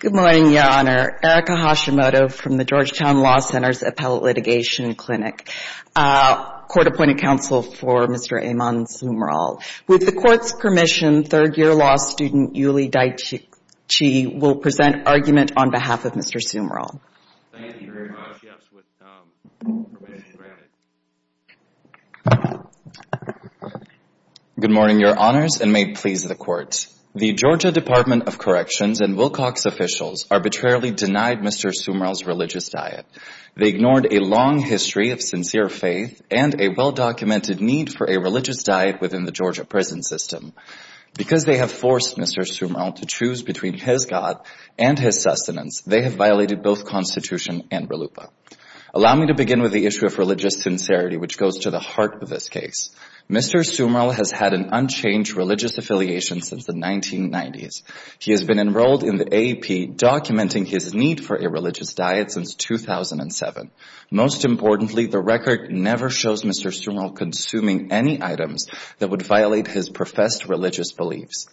Good morning, Your Honor. Erika Hashimoto from the Georgetown Law Center's Appellate Litigation Clinic. Court-appointed counsel for Mr. Ammon Sumrall. With the Court's permission, third-year law student Yuli Dai-Chi will present argument on behalf of Mr. Sumrall. Good morning, Your Honors, and may it please the Court. The Georgia Department of Corrections and Wilcox officials arbitrarily denied Mr. Sumrall's religious diet. They ignored a long history of sincere faith and a well-documented need for a religious diet within the Georgia prison system. Because they have forced Mr. Sumrall to choose between his God and his sustenance, they have violated both Constitution and RLUIPA. Allow me to begin with the issue of religious sincerity, which goes to the heart of this case. Mr. Sumrall has had an unchanged religious affiliation since the 1990s. He has been enrolled in the AAP, documenting his need for a religious diet since 2007. Most importantly, the record never shows Mr. Sumrall consuming any items that would violate his professed religious beliefs.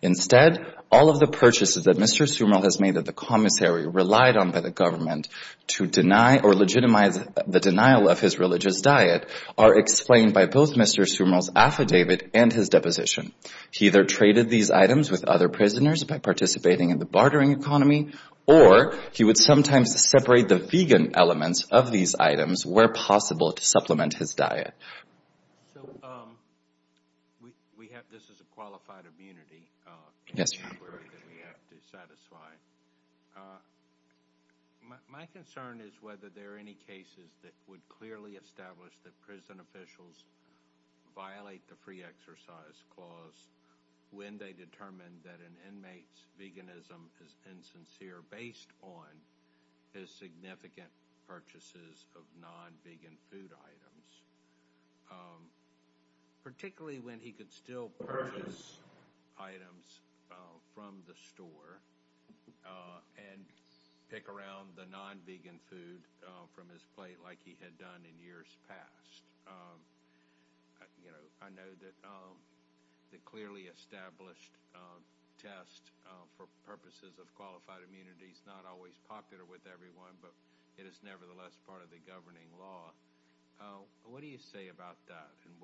Instead, all of the purchases that Mr. Sumrall has made at the commissary, relied on by the government to deny or legitimize the denial of his religious diet, are explained by both Mr. Sumrall's affidavit and his deposition. He either traded these items with other prisoners by participating in the bartering economy, or he would sometimes separate the vegan elements of these items where possible to supplement his diet. This is a qualified immunity inquiry that we have to satisfy. My concern is whether there are any cases that would clearly establish that prison officials violate the free exercise clause when they determine that an inmate's veganism is insincere based on his significant purchases of non-vegan food items, particularly when he could still purchase items from the store and pick around the non-vegan food from his plate like he had done in years past. I know that the clearly established test for purposes of qualified immunity is not always popular with everyone, but it is nevertheless part of the governing law. What do you say about that and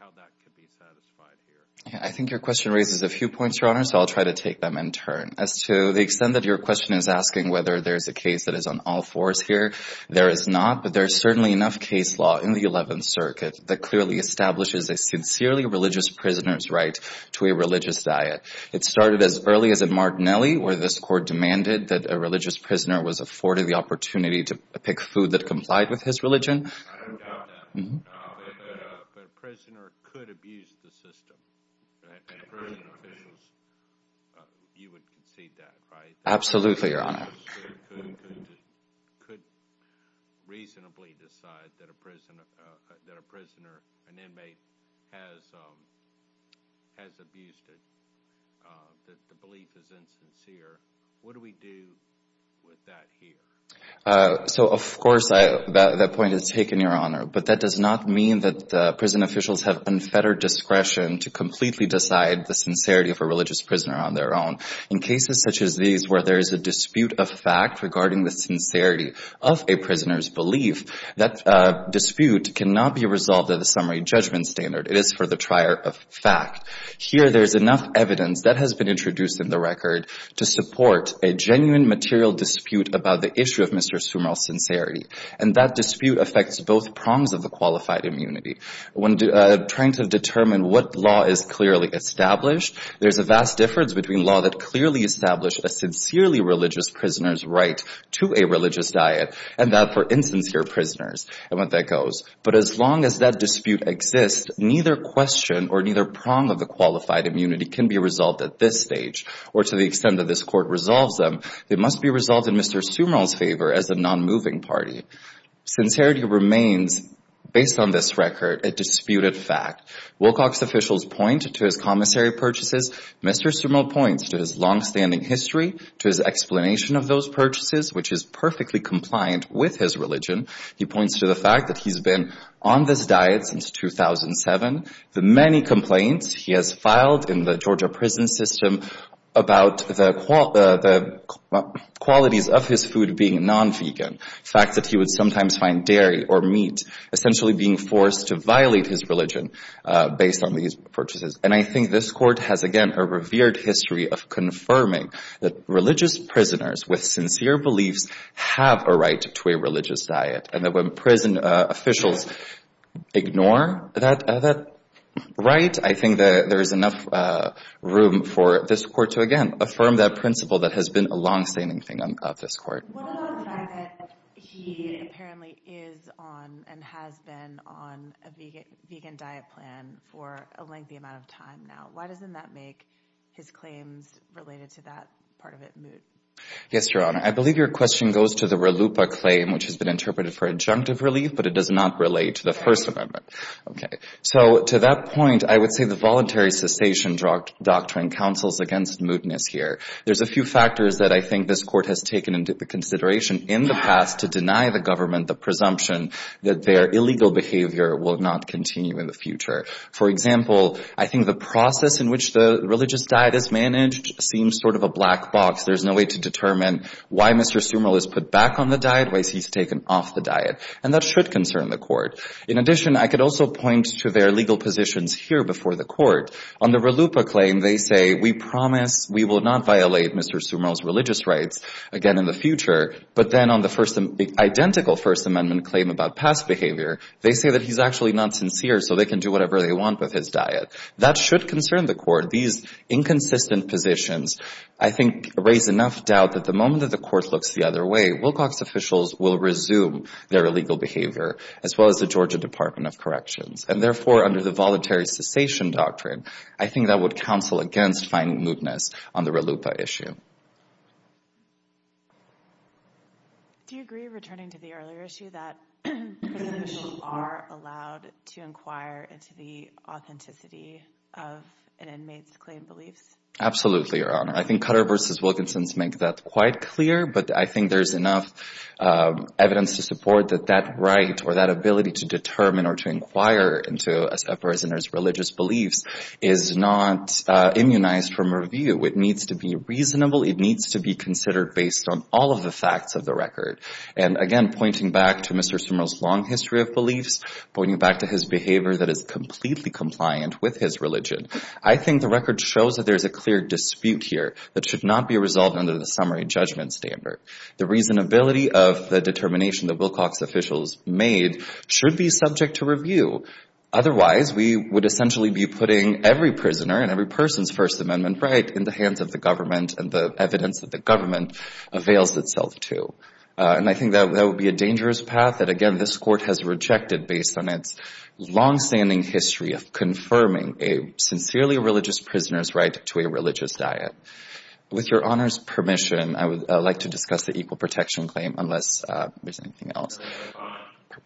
how that could be satisfied here? I think your question raises a few points, Your Honor, so I'll try to take them in turn. As to the extent that your question is asking whether there is a case that is on all fours here, there is not, but there is certainly enough case law in the Eleventh Circuit that clearly establishes a sincerely religious prisoner's right to a religious diet. It started as early as at Martinelli, where this court demanded that a religious prisoner was afforded the opportunity to pick food that complied with his religion. I don't doubt that, but a prisoner could abuse the system, and prison officials, you would concede that, right? Absolutely, Your Honor. A prisoner could reasonably decide that a prisoner, an inmate, has abused it, that the belief is insincere. What do we do with that here? So, of course, that point is taken, Your Honor, but that does not mean that prison officials have unfettered discretion to completely decide the sincerity of a religious prisoner on their own. In cases such as these where there is a dispute of fact regarding the sincerity of a prisoner's belief, that dispute cannot be resolved at a summary judgment standard. It is for the trier of fact. Here, there is enough evidence that has been introduced in the record to support a genuine material dispute about the issue of Mr. Sumrall's sincerity, and that dispute affects both prongs of the qualified immunity. When trying to determine what law is clearly established, there is a vast difference between law that clearly established a sincerely religious prisoner's right to a religious diet and that for insincere prisoners and what that goes. But as long as that dispute exists, neither question or neither prong of the qualified immunity can be resolved at this stage or to the extent that this Court resolves them. It must be resolved in Mr. Sumrall's favor as a nonmoving party. Sincerity remains, based on this record, a disputed fact. Wilcox officials point to his commissary purchases. Mr. Sumrall points to his longstanding history, to his explanation of those purchases, which is perfectly compliant with his religion. He points to the fact that he's been on this diet since 2007, the many complaints he has filed in the Georgia prison system about the qualities of his food being non-vegan, the fact that he would sometimes find dairy or meat essentially being forced to violate his religion based on these purchases. And I think this Court has, again, a revered history of confirming that religious prisoners with sincere beliefs have a right to a religious diet. And that when prison officials ignore that right, I think that there is enough room for this Court to, again, affirm that principle that has been a longstanding thing of this Court. What about the fact that he apparently is on and has been on a vegan diet plan for a lengthy amount of time now? Why doesn't that make his claims related to that part of it moot? Yes, Your Honor, I believe your question goes to the RLUIPA claim, which has been interpreted for injunctive relief, but it does not relate to the First Amendment. So to that point, I would say the voluntary cessation doctrine counsels against mootness here. There's a few factors that I think this Court has taken into consideration in the past to deny the government the presumption that their illegal behavior will not continue in the future. For example, I think the process in which the religious diet is managed seems sort of a black box. There's no way to determine why Mr. Sumerl is put back on the diet, why he's taken off the diet. And that should concern the Court. In addition, I could also point to their legal positions here before the Court. On the RLUIPA claim, they say, we promise we will not violate Mr. Sumerl's religious rights again in the future. But then on the identical First Amendment claim about past behavior, they say that he's actually not sincere, so they can do whatever they want with his diet. That should concern the Court. These inconsistent positions, I think, raise enough doubt that the moment that the Court looks the other way, Wilcox officials will resume their illegal behavior, as well as the Georgia Department of Corrections. And therefore, under the Voluntary Cessation Doctrine, I think that would counsel against finding mootness on the RLUIPA issue. Do you agree, returning to the earlier issue, that prison officials are allowed to inquire into the authenticity of an inmate's claimed beliefs? Absolutely, Your Honor. I think Cutter v. Wilkinson makes that quite clear, but I think there's enough evidence to support that that right or that ability to determine or to inquire into a prisoner's religious beliefs is not immunized from review. It needs to be reasonable. It needs to be considered based on all of the facts of the record. And, again, pointing back to Mr. Sumerl's long history of beliefs, pointing back to his behavior that is completely compliant with his religion, I think the record shows that there's a clear dispute here. That should not be resolved under the summary judgment standard. The reasonability of the determination that Wilcox officials made should be subject to review. Otherwise, we would essentially be putting every prisoner and every person's First Amendment right in the hands of the government and the evidence that the government avails itself to. And I think that would be a dangerous path that, again, this Court has rejected based on its longstanding history of confirming a sincerely religious prisoner's right to a religious diet. With Your Honor's permission, I would like to discuss the Equal Protection Claim, unless there's anything else.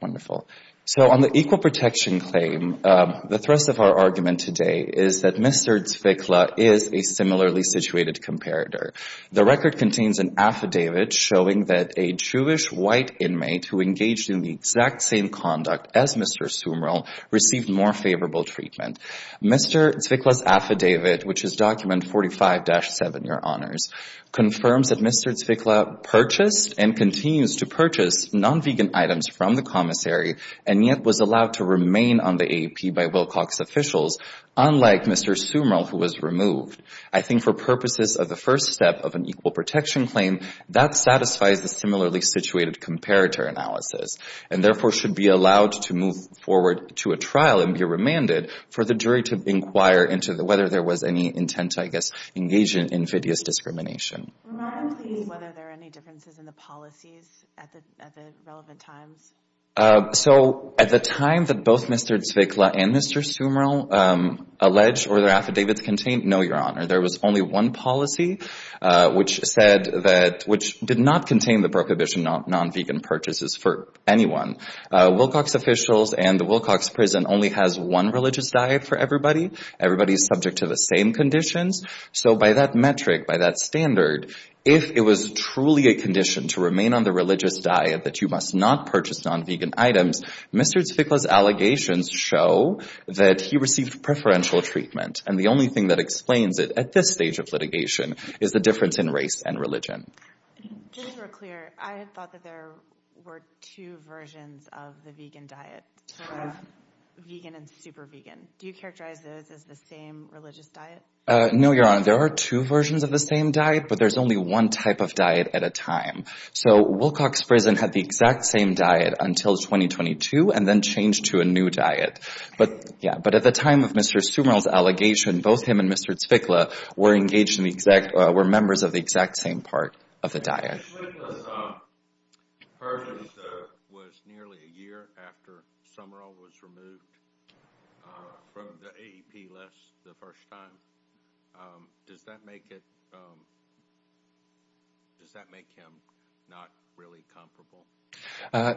Wonderful. So on the Equal Protection Claim, the thrust of our argument today is that Mr. Zwickla is a similarly situated comparator. The record contains an affidavit showing that a Jewish white inmate who engaged in the exact same conduct as Mr. Sumerl received more favorable treatment. Mr. Zwickla's affidavit, which is Document 45-7, Your Honors, confirms that Mr. Zwickla purchased and continues to purchase non-vegan items from the commissary and yet was allowed to remain on the AAP by Wilcox officials, unlike Mr. Sumerl, who was removed. I think for purposes of the first step of an Equal Protection Claim, that satisfies the similarly situated comparator analysis and therefore should be allowed to move forward to a trial and be remanded for the jury to inquire into whether there was any intent to, I guess, engage in invidious discrimination. Remind me whether there are any differences in the policies at the relevant times. So at the time that both Mr. Zwickla and Mr. Sumerl alleged or their affidavits contained, no, Your Honor, there was only one policy which said that – which did not contain the prohibition of non-vegan purchases for anyone. Wilcox officials and the Wilcox prison only has one religious diet for everybody. Everybody is subject to the same conditions. So by that metric, by that standard, if it was truly a condition to remain on the religious diet that you must not purchase non-vegan items, Mr. Zwickla's allegations show that he received preferential treatment. And the only thing that explains it at this stage of litigation is the difference in race and religion. Just to be clear, I thought that there were two versions of the vegan diet, vegan and super vegan. Do you characterize those as the same religious diet? No, Your Honor. There are two versions of the same diet, but there's only one type of diet at a time. So Wilcox prison had the exact same diet until 2022 and then changed to a new diet. But at the time of Mr. Sumerl's allegation, both him and Mr. Zwickla were engaged in the exact – were members of the exact same part of the diet. Mr. Zwickla's purchase was nearly a year after Sumerl was removed from the AEP list the first time. Does that make it – does that make him not really comparable?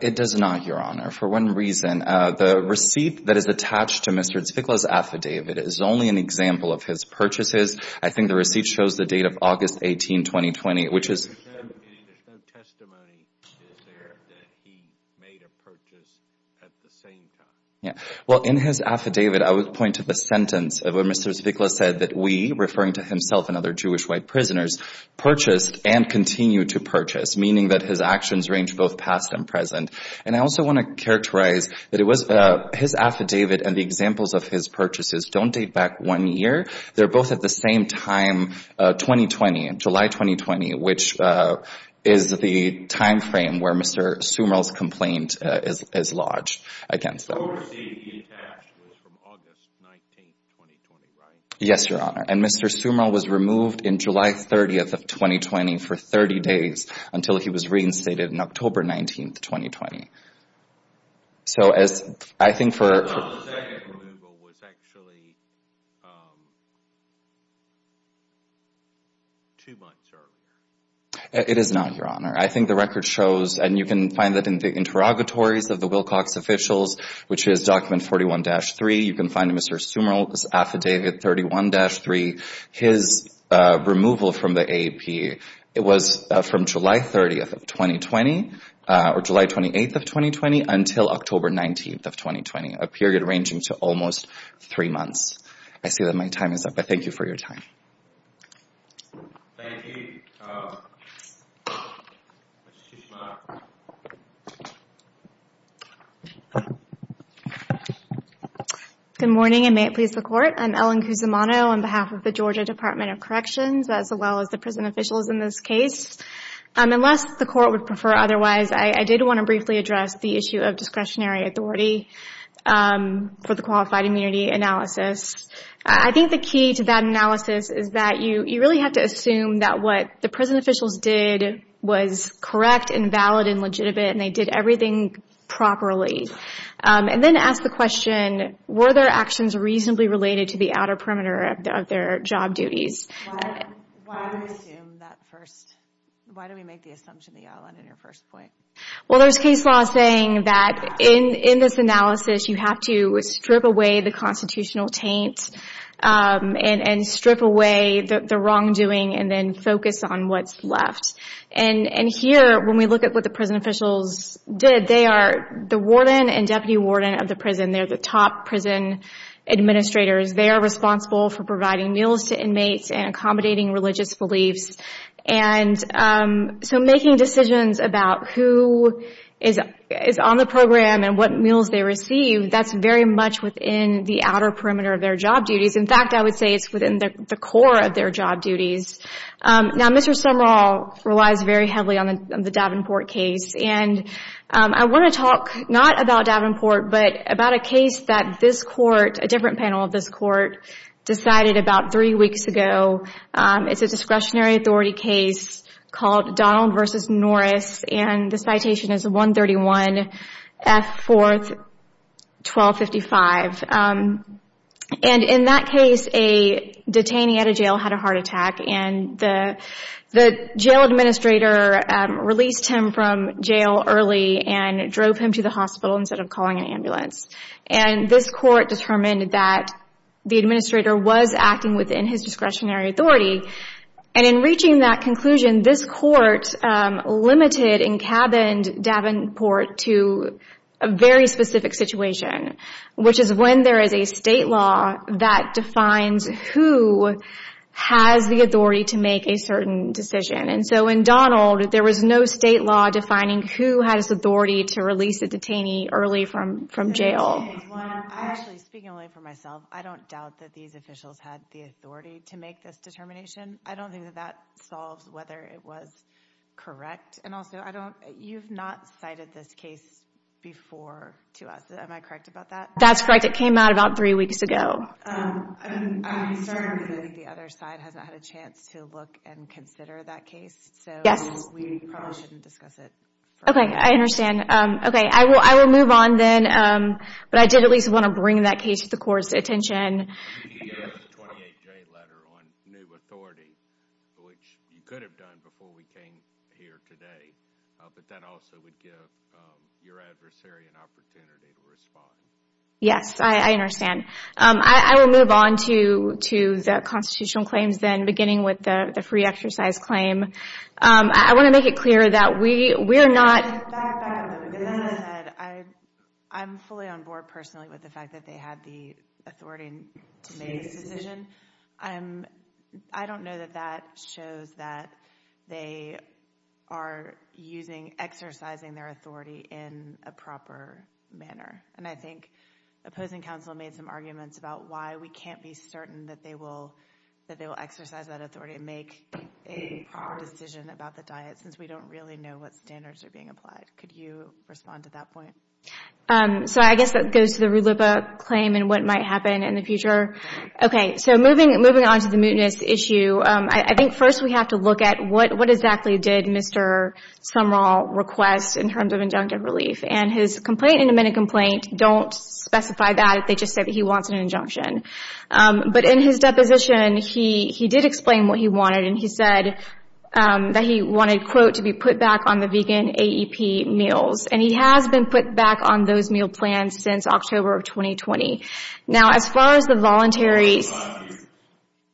It does not, Your Honor, for one reason. The receipt that is attached to Mr. Zwickla's affidavit is only an example of his purchases. I think the receipt shows the date of August 18, 2020, which is – There's no testimony that he made a purchase at the same time. Well, in his affidavit, I would point to the sentence where Mr. Zwickla said that we, referring to himself and other Jewish white prisoners, purchased and continue to purchase, meaning that his actions range both past and present. And I also want to characterize that it was – his affidavit and the examples of his purchases don't date back one year. They're both at the same time, 2020, July 2020, which is the timeframe where Mr. Sumerl's complaint is lodged against them. So the receipt he attached was from August 19, 2020, right? Yes, Your Honor. And Mr. Sumerl was removed on July 30, 2020, for 30 days until he was reinstated on October 19, 2020. So as – I think for – I thought the second removal was actually two months earlier. It is not, Your Honor. I think the record shows – and you can find that in the interrogatories of the Wilcox officials, which is document 41-3. You can find Mr. Sumerl's affidavit 31-3, his removal from the AAP. It was from July 30, 2020, or July 28, 2020, until October 19, 2020, a period ranging to almost three months. I see that my time is up, but thank you for your time. Thank you. Good morning, and may it please the Court. I'm Ellen Cusimano on behalf of the Georgia Department of Corrections, as well as the prison officials in this case. Unless the Court would prefer otherwise, I did want to briefly address the issue of discretionary authority for the qualified immunity analysis. I think the key to that analysis is that you really have to assume that what the prison officials did was correct and valid and legitimate, and they did everything properly. And then ask the question, were their actions reasonably related to the outer perimeter of their job duties? Why do we assume that first? Why do we make the assumption, Ellen, in your first point? Well, there's case law saying that in this analysis, you have to strip away the constitutional taint and strip away the wrongdoing and then focus on what's left. And here, when we look at what the prison officials did, they are the warden and deputy warden of the prison. They're the top prison administrators. They are responsible for providing meals to inmates and accommodating religious beliefs. And so making decisions about who is on the program and what meals they receive, that's very much within the outer perimeter of their job duties. In fact, I would say it's within the core of their job duties. Now, Mr. Sumrall relies very heavily on the Davenport case. And I want to talk not about Davenport, but about a case that this Court, a different panel of this Court, decided about three weeks ago. It's a discretionary authority case called Donald v. Norris. And this citation is 131 F. 4th 1255. And in that case, a detainee at a jail had a heart attack. And the jail administrator released him from jail early and drove him to the hospital instead of calling an ambulance. And this Court determined that the administrator was acting within his discretionary authority. And in reaching that conclusion, this Court limited and cabined Davenport to a very specific situation, which is when there is a state law that defines who has the authority to make a certain decision. And so in Donald, there was no state law defining who has authority to release a detainee early from jail. Actually, speaking only for myself, I don't doubt that these officials had the authority to make this determination. I don't think that that solves whether it was correct. And also, you've not cited this case before to us. Am I correct about that? That's correct. It came out about three weeks ago. I'm concerned that the other side hasn't had a chance to look and consider that case. Yes. So we probably shouldn't discuss it. Okay, I understand. Okay, I will move on then. But I did at least want to bring that case to the Court's attention. The 28-J letter on new authority, which you could have done before we came here today, but that also would give your adversary an opportunity to respond. Yes, I understand. I will move on to the constitutional claims then, beginning with the free exercise claim. I want to make it clear that we're not Back on that. I'm fully on board personally with the fact that they had the authority to make this decision. I don't know that that shows that they are exercising their authority in a proper manner. And I think opposing counsel made some arguments about why we can't be certain that they will exercise that authority and make a decision about the diet, since we don't really know what standards are being applied. Could you respond to that point? So I guess that goes to the RULIPA claim and what might happen in the future. Okay, so moving on to the mootness issue, I think first we have to look at what exactly did Mr. Sumrall request in terms of injunctive relief. And his complaint and amendment complaint don't specify that. They just say that he wants an injunction. But in his deposition, he did explain what he wanted. And he said that he wanted, quote, to be put back on the vegan AEP meals. And he has been put back on those meal plans since October of 2020. Now as far as the voluntary Yes.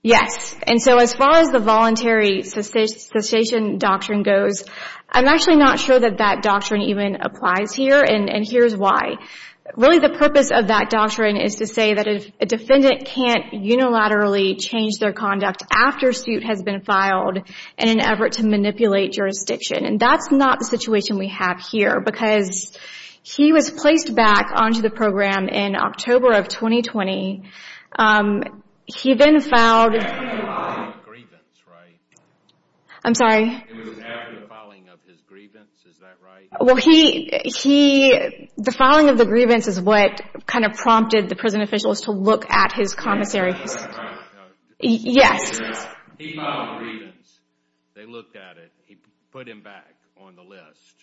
Yes. And so as far as the voluntary cessation doctrine goes, I'm actually not sure that that doctrine even applies here. And here's why. Really the purpose of that doctrine is to say that a defendant can't unilaterally change their conduct after suit has been filed in an effort to manipulate jurisdiction. And that's not the situation we have here. Because he was placed back onto the program in October of 2020. He then filed It was after the filing of grievance, right? I'm sorry. It was after the filing of his grievance, is that right? Well, he The filing of the grievance is what kind of prompted the prison officials to look at his commissary. Yes. He filed a grievance. They looked at it. He put him back on the list.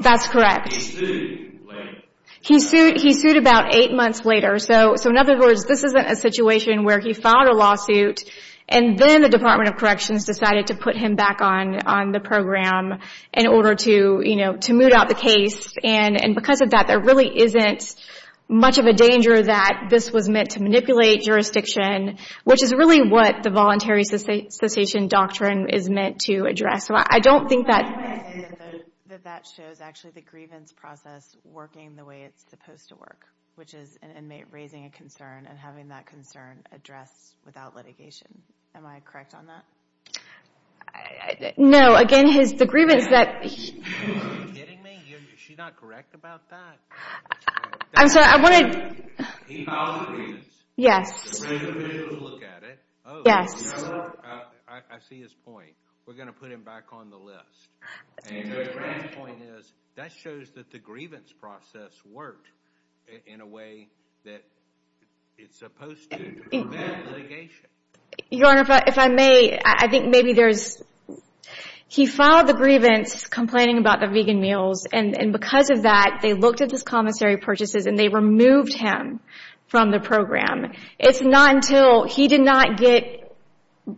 That's correct. He sued later. He sued about eight months later. So in other words, this isn't a situation where he filed a lawsuit and then the Department of Corrections decided to put him back on the program in order to, you know, to moot out the case. And because of that, there really isn't much of a danger that this was meant to manipulate jurisdiction, which is really what the voluntary cessation doctrine is meant to address. I don't think that That shows actually the grievance process working the way it's supposed to work, which is an inmate raising a concern and having that concern addressed without litigation. Am I correct on that? No. Again, the grievance that Are you kidding me? Is she not correct about that? I'm sorry. I wanted He filed a grievance. Yes. The prison officials looked at it. Yes. You know what? I see his point. We're going to put him back on the list. My point is that shows that the grievance process worked in a way that it's supposed to prevent litigation. Your Honor, if I may, I think maybe there's He filed the grievance complaining about the vegan meals and because of that, they looked at his commissary purchases and they removed him from the program. It's not until he did not get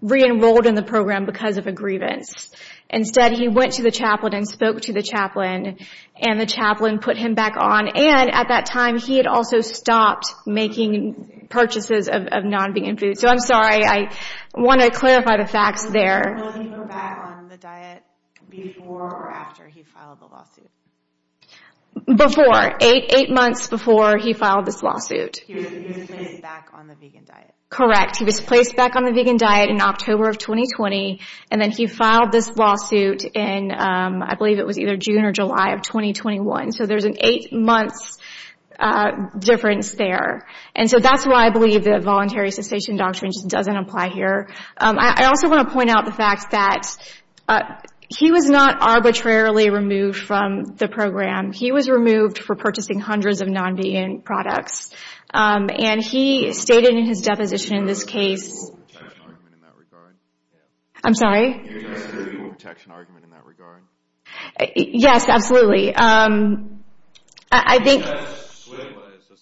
re-enrolled in the program because of a grievance. Instead, he went to the chaplain and spoke to the chaplain and the chaplain put him back on. And at that time, he had also stopped making purchases of non-vegan food. So I'm sorry. I want to clarify the facts there. Will he go back on the diet before or after he filed the lawsuit? Before. Eight months before he filed this lawsuit. He was placed back on the vegan diet. Correct. He was placed back on the vegan diet in October of 2020 and then he filed this lawsuit in, I believe it was either June or July of 2021. So there's an eight-month difference there. And so that's why I believe that voluntary cessation doctrine just doesn't apply here. I also want to point out the fact that he was not arbitrarily removed from the program. He was removed for purchasing hundreds of non-vegan products. And he stated in his deposition in this case Do you have a legal protection argument in that regard? I'm sorry? Do you have a legal protection argument in that regard? Yes, absolutely. I think Do you think that Switla is a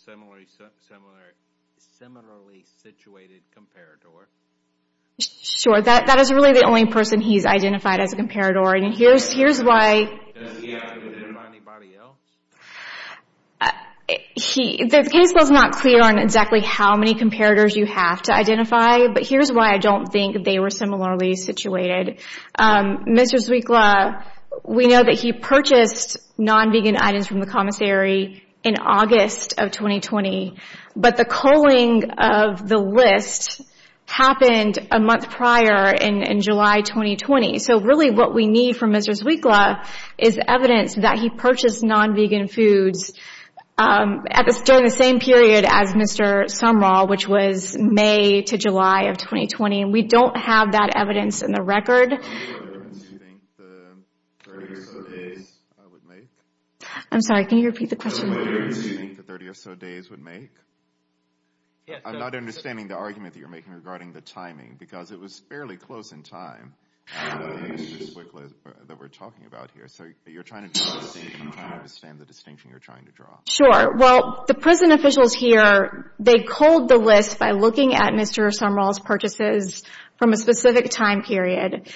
similarly situated comparator? Sure. That is really the only person he's identified as a comparator. And here's why. Does he identify anybody else? The case was not clear on exactly how many comparators you have to identify. But here's why I don't think they were similarly situated. Mr. Switla, we know that he purchased non-vegan items from the commissary in August of 2020. But the culling of the list happened a month prior in July 2020. So really what we need from Mr. Switla is evidence that he purchased non-vegan foods during the same period as Mr. Sumrall, which was May to July of 2020. And we don't have that evidence in the record. Do you think the 30 or so days would make? I'm sorry. Can you repeat the question? Do you think the 30 or so days would make? I'm not understanding the argument that you're making regarding the timing because it was fairly close in time that we're talking about here. So you're trying to draw a distinction. I don't understand the distinction you're trying to draw. Sure. Well, the prison officials here, they culled the list by looking at Mr. Sumrall's purchases from a specific time period.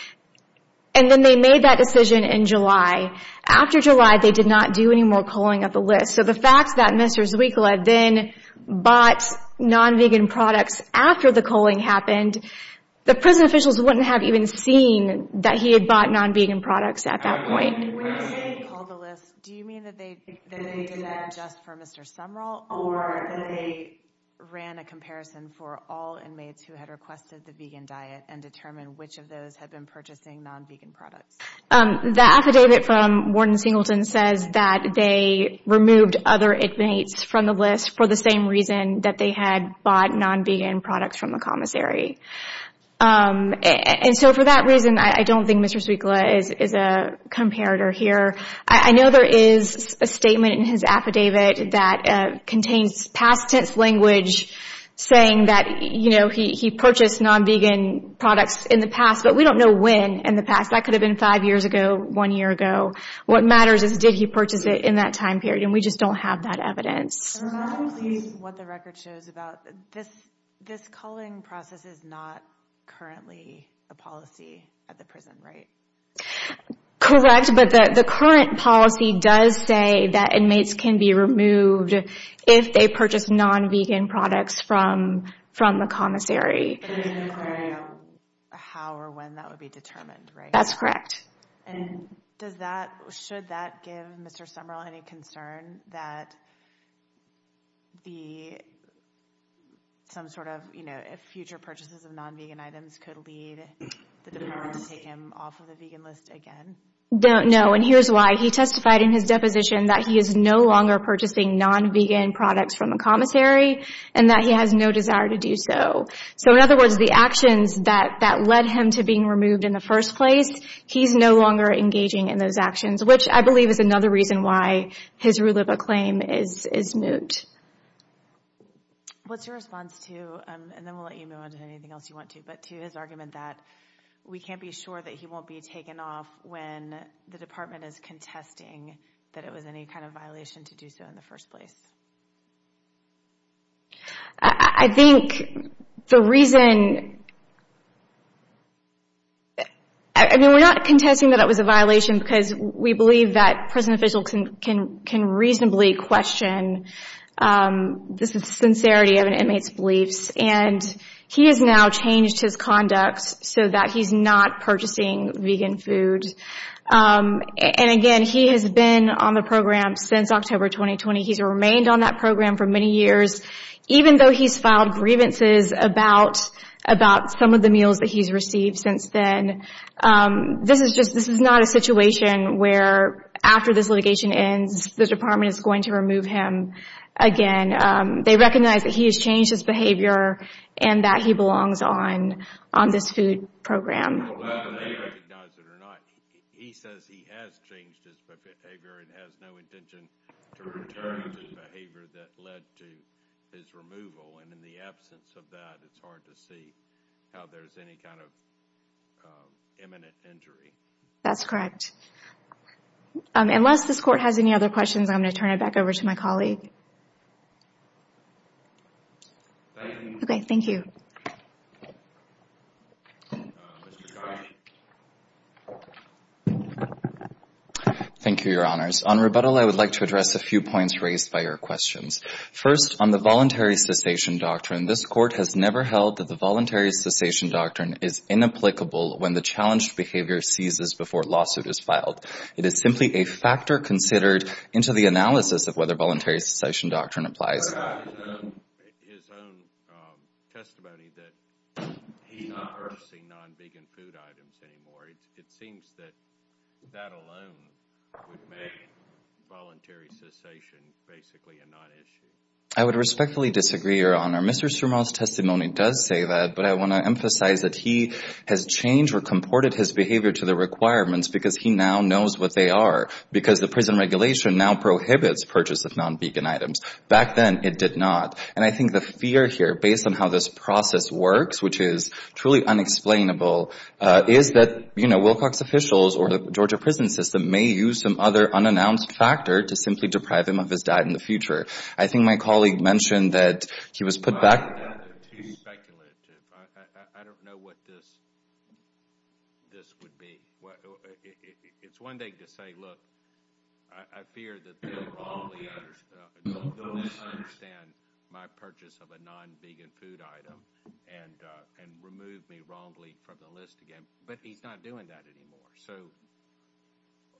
And then they made that decision in July. After July, they did not do any more culling of the list. So the fact that Mr. Switla then bought non-vegan products after the culling happened, the prison officials wouldn't have even seen that he had bought non-vegan products at that point. When you say they culled the list, do you mean that they did that just for Mr. Sumrall or that they ran a comparison for all inmates who had requested the vegan diet and determined which of those had been purchasing non-vegan products? The affidavit from Warden Singleton says that they removed other inmates from the list for the same reason that they had bought non-vegan products from the commissary. And so for that reason, I don't think Mr. Switla is a comparator here. I know there is a statement in his affidavit that contains past tense language saying that he purchased non-vegan products in the past, but we don't know when in the past. That could have been five years ago, one year ago. What matters is did he purchase it in that time period, and we just don't have that evidence. I'm not pleased with what the record shows about this culling process is not currently a policy at the prison, right? Correct, but the current policy does say that inmates can be removed if they purchase non-vegan products from the commissary. How or when that would be determined, right? That's correct. And should that give Mr. Sumrall any concern that some sort of future purchases of non-vegan items could lead the department to take him off of the vegan list again? No, and here's why. He testified in his deposition that he is no longer purchasing non-vegan products from the commissary and that he has no desire to do so. So in other words, the actions that led him to being removed in the first place, he's no longer engaging in those actions, which I believe is another reason why his rule of acclaim is moot. What's your response to, and then we'll let you move on to anything else you want to, but to his argument that we can't be sure that he won't be taken off when the department is contesting that it was any kind of violation to do so in the first place? I think the reason, I mean, we're not contesting that it was a violation because we believe that prison officials can reasonably question the sincerity of an inmate's beliefs. And he has now changed his conduct so that he's not purchasing vegan food. And again, he has been on the program since October 2020. He's remained on that program for many years, even though he's filed grievances about some of the meals that he's received since then. This is just, this is not a situation where after this litigation ends, the department is going to remove him again. They recognize that he has changed his behavior and that he belongs on this food program. Whether they recognize it or not, he says he has changed his behavior and has no intention to return to the behavior that led to his removal. And in the absence of that, it's hard to see how there's any kind of imminent injury. That's correct. Unless this Court has any other questions, I'm going to turn it back over to my colleague. Thank you. Okay, thank you. Thank you, Your Honors. On rebuttal, I would like to address a few points raised by your questions. First, on the voluntary cessation doctrine, this Court has never held that the voluntary cessation doctrine is inapplicable when the challenged behavior ceases before a lawsuit is filed. It is simply a factor considered into the analysis of whether voluntary cessation doctrine applies. I would respectfully disagree, Your Honor. Mr. Surma's testimony does say that, but I want to emphasize that he has changed or comported his behavior to the requirements because he now knows what they are, because the prison regulation now prohibits purchase of non-vegan items. Back then, it did not. And I think the fear here, based on how this process works, which is truly unexplainable, is that, you know, Wilcox officials or the Georgia prison system may use some other unannounced factor to simply deprive him of his diet in the future. I think my colleague mentioned that he was put back... It's too speculative. I don't know what this would be. It's one thing to say, look, I fear that they will wrongly understand my purchase of a non-vegan food item and remove me wrongly from the list again, but he's not doing that anymore, so...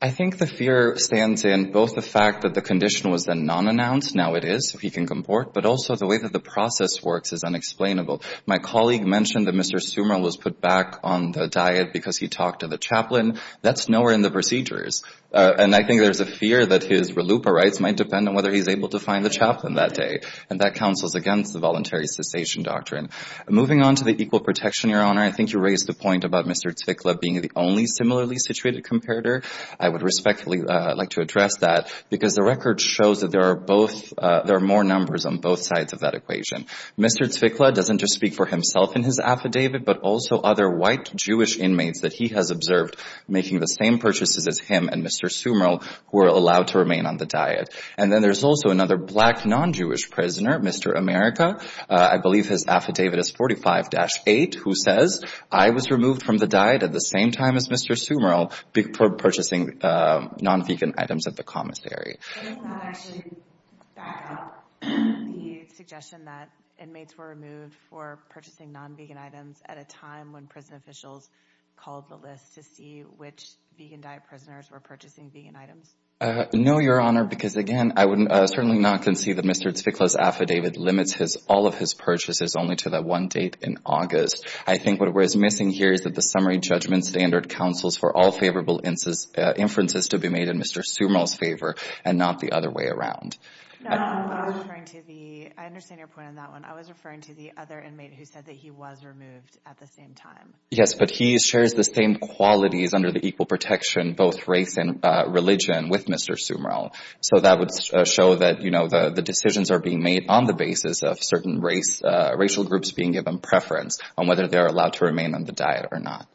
I think the fear stands in both the fact that the condition was then non-announced, now it is, so he can comport, but also the way that the process works is unexplainable. My colleague mentioned that Mr. Sumer was put back on the diet because he talked to the chaplain. That's nowhere in the procedures. And I think there's a fear that his RLUIPA rights might depend on whether he's able to find the chaplain that day, and that counsels against the voluntary cessation doctrine. Moving on to the equal protection, Your Honor, I think you raised the point about Mr. Ticklev being the only similarly situated comparator. I would respectfully like to address that, because the record shows that there are more numbers on both sides of that equation. Mr. Ticklev doesn't just speak for himself in his affidavit, but also other white Jewish inmates that he has observed making the same purchases as him and Mr. Sumer who are allowed to remain on the diet. And then there's also another black non-Jewish prisoner, Mr. America. I believe his affidavit is 45-8, who says, I was removed from the diet at the same time as Mr. Sumer for purchasing non-vegan items at the commissary. No, Your Honor, because, again, I would certainly not concede that Mr. Ticklev's affidavit limits all of his purchases only to that one date in August. I think what was missing here is that the summary judgment standard counsels for all favorable inferences to be made in Mr. Sumer's favor and not the other way around. No, I was referring to the... I understand your point on that one. I was referring to the other inmate who said that he was removed at the same time. Yes, but he shares the same qualities under the equal protection, both race and religion, with Mr. Sumer. So that would show that, you know, the decisions are being made on the basis of certain racial groups being given preference on whether they are allowed to remain on the diet or not.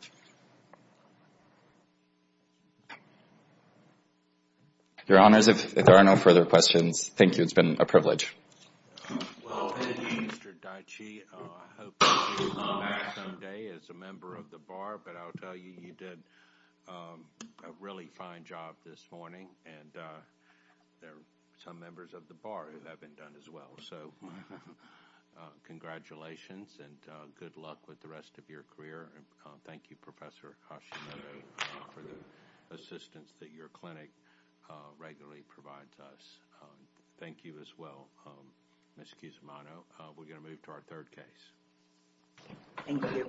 Your Honors, if there are no further questions, thank you. It's been a privilege. Well, thank you, Mr. Daichi. I hope that you will come back someday as a member of the Bar, but I'll tell you, you did a really fine job this morning, and there are some members of the Bar who haven't done as well. So congratulations and good luck with the rest of your career, and thank you, Professor Hashimoto, for the assistance that your clinic regularly provides us. Thank you as well, Ms. Cusimano. We're going to move to our third case. Thank you. Thank you.